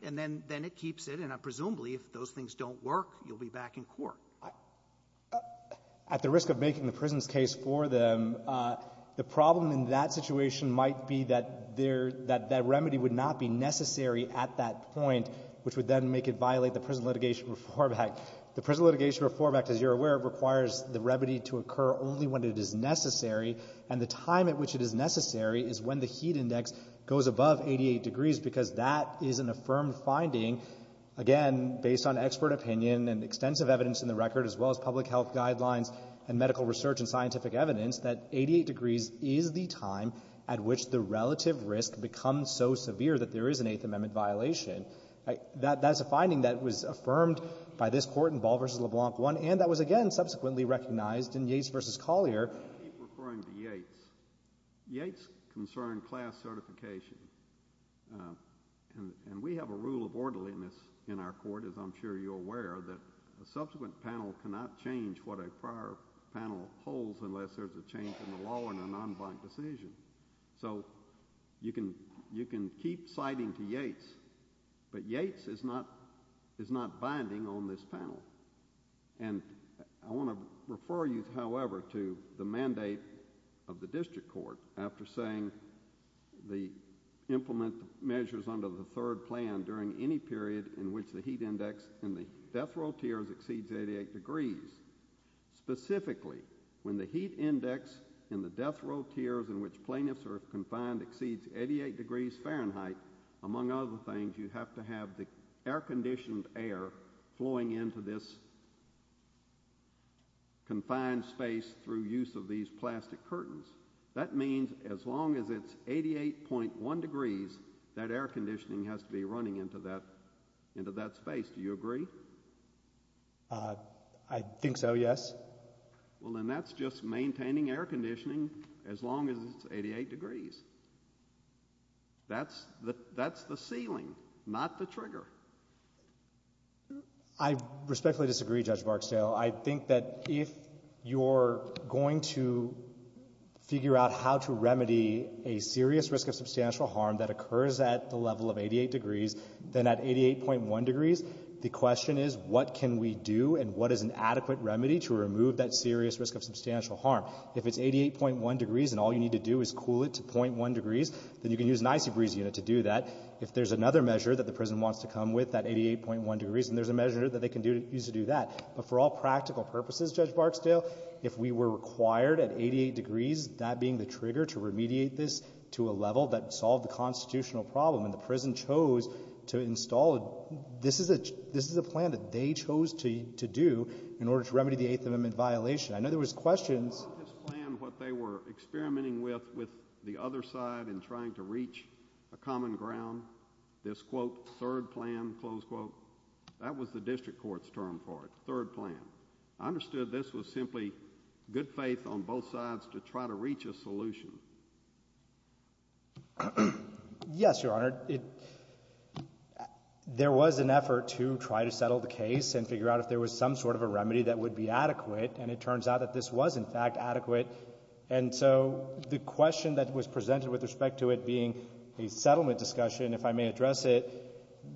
and presumably, if those things don't work, you'll be back in court. At the risk of making the prison's case for them, the problem in that situation might be that there, that that remedy would not be necessary at that point, which would then make it violate the Prison Litigation Reform Act. The Prison Litigation Reform Act, as you're aware, requires the remedy to occur only when it is necessary, and the time at which it is necessary is when the heat index goes above 88 degrees because that is an affirmed finding, again, based on expert opinion and extensive evidence in the record, as well as public health guidelines and medical research and scientific evidence, that 88 degrees is the time at which the relative risk becomes so severe that there is an Eighth Amendment violation. That's a finding that was affirmed by this Court in Ball v. LeBlanc I, and that was, again, subsequently recognized in Yates v. Collier. Let's keep referring to Yates. Yates concerned class certification, and we have a rule of orderliness in our Court, as I'm sure you're aware, that a subsequent panel cannot change what a prior panel holds unless there's a change in the law in a non-blank decision. So you can keep citing to Yates, but Yates is not, is not the mandate of the district court after saying the implement measures under the third plan during any period in which the heat index in the death row tiers exceeds 88 degrees. Specifically, when the heat index in the death row tiers in which plaintiffs are confined exceeds 88 degrees Fahrenheit, among other things, you have to have the air-conditioned air flowing into this confined space through use of these plastic curtains. That means as long as it's 88.1 degrees, that air-conditioning has to be running into that, into that space. Do you agree? I think so, yes. Well, then that's just maintaining air-conditioning as long as it's 88 degrees. That's the, that's the ceiling, not the trigger. I respectfully disagree, Judge Barksdale. I think that if you're going to figure out how to remedy a serious risk of substantial harm that occurs at the level of 88 degrees, then at 88.1 degrees, the question is, what can we do and what is an adequate remedy to remove that serious risk of substantial harm? If it's 88.1 degrees and all you need to do is cool it to .1 degrees, then you can use an anti-breeze unit to do that. If there's another measure that the prison wants to come with at 88.1 degrees, then there's a measure that they can use to do that. But for all practical purposes, Judge Barksdale, if we were required at 88 degrees, that being the trigger to remediate this to a level that solved the constitutional problem and the prison chose to install it, this is a, this is a plan that they chose to, to do in order to remedy the Eighth Amendment violation. I know there was questions. Was this plan what they were experimenting with, with the other side in trying to reach a common ground, this, quote, third plan, close quote? That was the district court's term for it, third plan. I understood this was simply good faith on both sides to try to reach a solution. Yes, Your Honor. It, there was an effort to try to settle the case and figure out if there was some sort of a remedy that would be adequate, and it turns out that this was, in fact, adequate. And so the question that was presented with respect to it being a settlement discussion, if I may address it,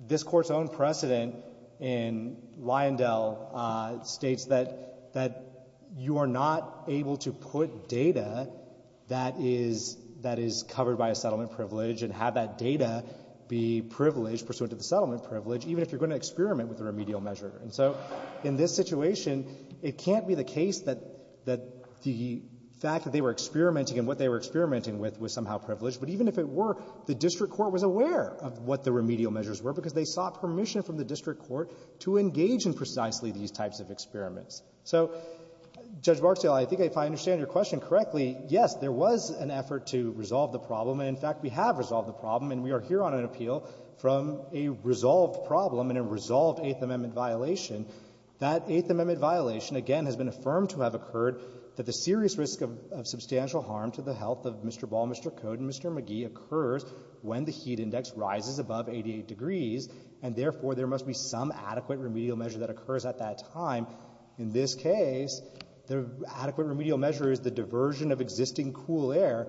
this Court's own precedent in Lyondell states that, that you are not able to put data that is, that is covered by a settlement privilege and have that data be privileged, pursuant to the settlement privilege, even if you're going to experiment with a that the fact that they were experimenting and what they were experimenting with was somehow privileged. But even if it were, the district court was aware of what the remedial measures were because they sought permission from the district court to engage in precisely these types of experiments. So, Judge Barksdale, I think if I understand your question correctly, yes, there was an effort to resolve the problem. And, in fact, we have resolved the problem, and we are here on an appeal from a resolved problem and a resolved Eighth Amendment violation. That Eighth Amendment violation, again, has been affirmed to have occurred that the serious risk of substantial harm to the health of Mr. Ball, Mr. Code, and Mr. McGee occurs when the heat index rises above 88 degrees, and therefore there must be some adequate remedial measure that occurs at that time. In this case, the adequate remedial measure is the diversion of existing cool air.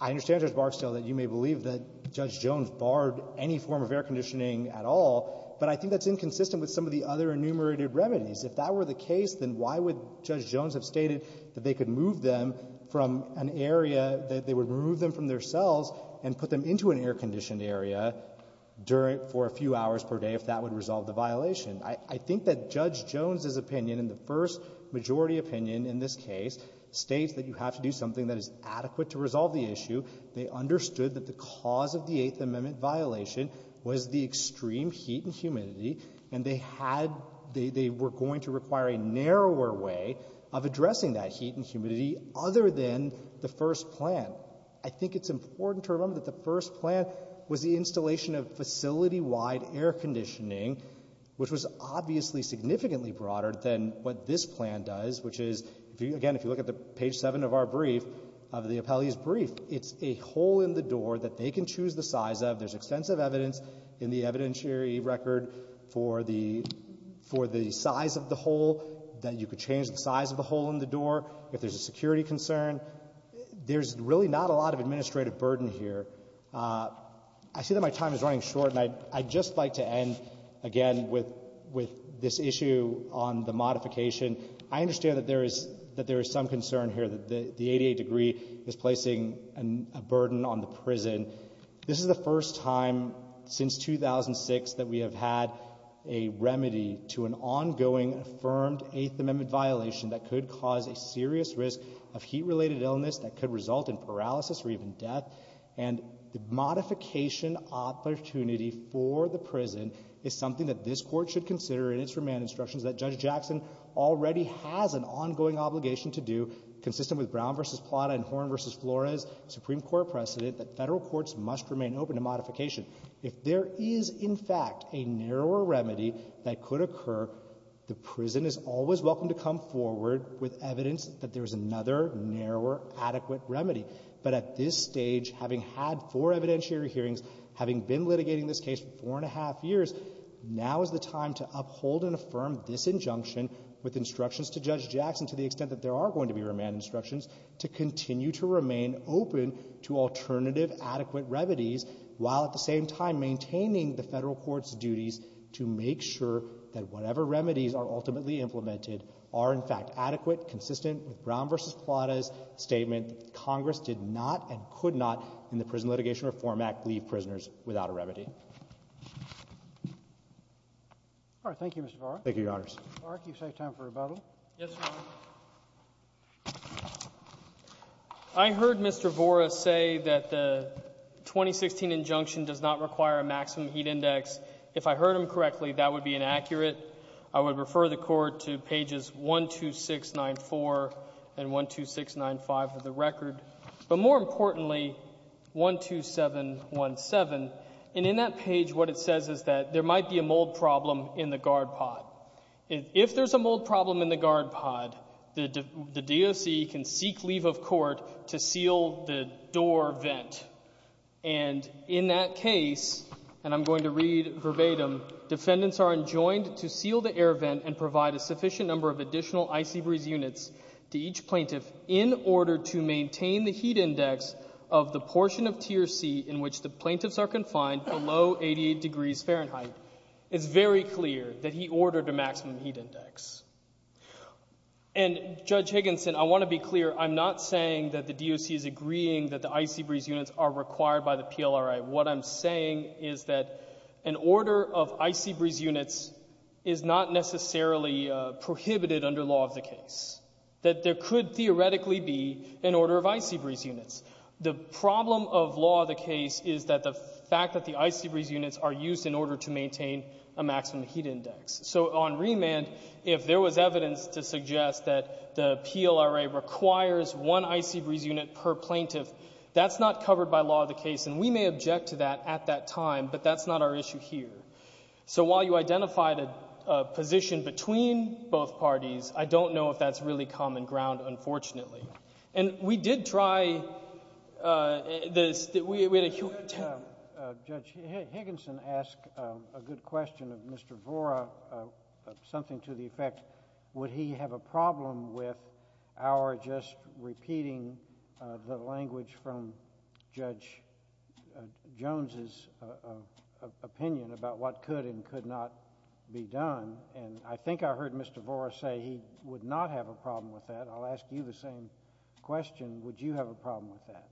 I understand, Judge Barksdale, that you may believe that Judge Jones barred any form of air conditioning at all, but I think that's inconsistent with some of the other enumerated remedies. If that were the case, then why would Judge Jones have stated that they could move them from an area, that they would remove them from their cells and put them into an air-conditioned area during — for a few hours per day if that would resolve the violation? I think that Judge Jones's opinion, in the first majority opinion in this case, states that you have to do something that is adequate to resolve the issue. They understood that the cause of the Eighth Amendment violation was the extreme heat and humidity, and they had — they were going to require a narrower way of addressing that heat and humidity other than the first plan. I think it's important to remember that the first plan was the installation of facility-wide air conditioning, which was obviously significantly broader than what this plan does, which is — again, if you look at the page 7 of our brief, of the appellee's brief, it's a hole in the door that they can choose the size of. There's extensive evidence in the evidentiary record for the — for the size of the hole, that you could change the size of the hole in the door if there's a security concern. There's really not a lot of administrative burden here. I see that my time is running short, and I'd just like to end, again, with this issue on the modification. I understand that there is — that there is some concern here that the 88 degree is placing a burden on the prison. This is the first time since 2006 that we have had a remedy to an ongoing affirmed Eighth Amendment violation that could cause a serious risk of heat-related illness that could result in paralysis or even death, and the modification opportunity for the prison is something that this Court should consider in its remand instructions that Judge Jackson already has an ongoing obligation to do, consistent with Brown v. Plata and Horne v. Flores, Supreme Court precedent, that Federal courts must remain open to modification. If there is, in fact, a narrower remedy that could occur, the prison is always welcome to come forward with evidence that there is another narrower adequate remedy. But at this stage, having had four evidentiary hearings, having been litigating this case four and a half years, now is the time to uphold and affirm this injunction with instructions to Judge Jackson, to the extent that there are going to be remand instructions, to continue to remain open to alternative adequate remedies, while at the same time maintaining the Federal court's duties to make sure that whatever remedies are ultimately implemented are, in fact, adequate, consistent with Brown v. Plata's statement that Congress did not and could not in the Prison Litigation Reform Act leave prisoners without a remedy. All right. Thank you, Mr. Vora. Thank you, Your Honors. Mr. Vora, can you take time for rebuttal? Yes, Your Honor. I heard Mr. Vora say that the 2016 injunction does not require a maximum heat index. If I heard him correctly, that would be inaccurate. I would refer the Court to pages 12694 and 12695 of the record. But more importantly, 12717. And in that page, what it says is that there might be a mold problem in the guard pod. If there's a mold problem in the guard pod, the DOC can seek leave of court to seal the door vent. And in that case, and I'm going to read verbatim, defendants are enjoined to seal the air vent and provide a sufficient number of the portion of Tier C in which the plaintiffs are confined below 88 degrees Fahrenheit. It's very clear that he ordered a maximum heat index. And, Judge Higginson, I want to be clear. I'm not saying that the DOC is agreeing that the icy breeze units are required by the PLRA. What I'm saying is that an order of icy breeze units is not necessarily prohibited under law of the case, that there could theoretically be an order of icy breeze units. The problem of law of the case is that the fact that the icy breeze units are used in order to maintain a maximum heat index. So on remand, if there was evidence to suggest that the PLRA requires one icy breeze unit per plaintiff, that's not covered by law of the case. And we may object to that at that time, but that's not our issue here. So while you identified a position between both parties, I don't know if that's really common ground, unfortunately. And we did try this. We had a human Judge Higginson asked a good question of Mr. Vora, something to the effect, would he have a problem with our just repeating the language from Judge Jones's opinion about what could and could not be done? And I think I heard Mr. Vora say he would not have a problem with that. I'll ask you the same question. Would you have a problem with that?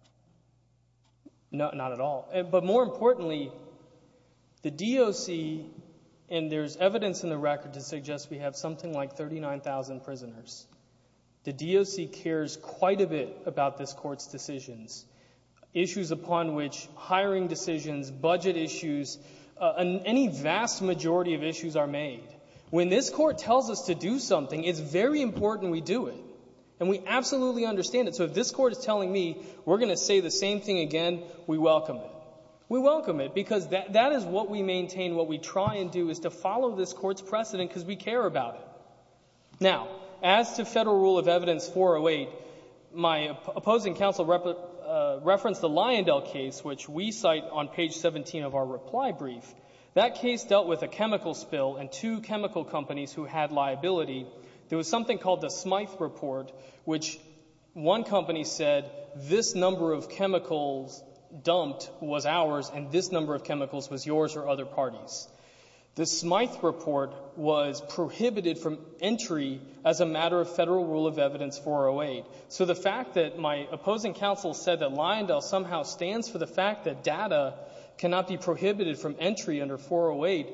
Not at all. But more importantly, the DOC, and there's evidence in the record to suggest we have something like 39,000 prisoners, the DOC cares quite a bit about this Court's decisions, issues upon which hiring decisions, budget issues, any vast majority of issues are made. When this Court tells us to do something, it's very important we do it. And we absolutely understand it. So if this Court is telling me we're going to say the same thing again, we welcome it. We welcome it because that is what we maintain, what we try and do is to follow this Court's precedent because we care about it. Now, as to Federal Rule of Evidence 408, my opposing counsel referenced the Lyondell case, which we cite on page 17 of our reply brief. That case dealt with a chemical spill and two chemical companies who had liability. There was something called the Smythe Report, which one company said this number of chemicals dumped was ours and this number of chemicals was yours or other parties. The Smythe Report was prohibited from entry as a matter of Federal Rule of Evidence 408. So the fact that my opposing counsel said that Lyondell somehow stands for the fact that data cannot be prohibited from entry under 408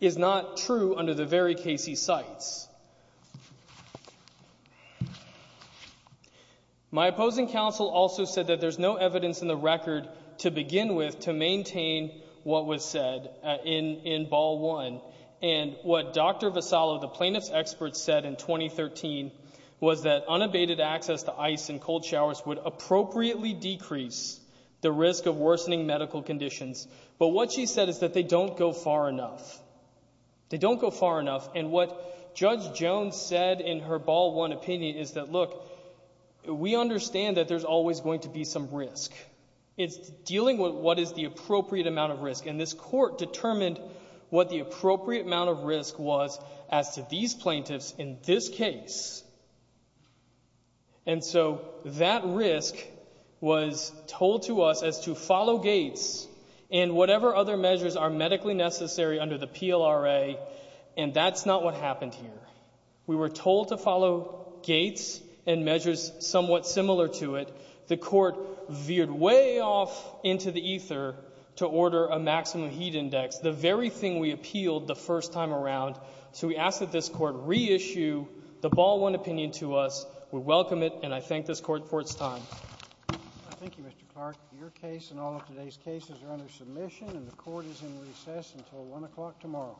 is not true under the very case he cites. My opposing counsel also said that there's no evidence in the record to begin with to maintain what was said in Ball 1. And what Dr. Vassallo, the plaintiff's expert, said in 2013 was that unabated access to ice and cold showers would appropriately decrease the risk of worsening medical conditions. But what she said is that they don't go far enough. They don't go far enough. And what Judge Jones said in her Ball 1 opinion is that, look, we understand that there's always going to be some risk. It's dealing with what is the appropriate amount of risk. And this Court determined what the appropriate amount of risk was as to these plaintiffs in this case. And so that risk was told to us as to follow Gates and whatever other measures are medically necessary under the PLRA, and that's not what happened here. We were told to follow Gates and measures somewhat similar to it. The Court veered way off into the ether to order a maximum heat index, the very thing we appealed the first time around. So we ask that this Court reissue the Ball 1 opinion to us. We welcome it, and I thank this Court for its time. Thank you, Mr. Clark. Your case and all of today's cases are under submission, and the Court is in recess until 1 o'clock tomorrow.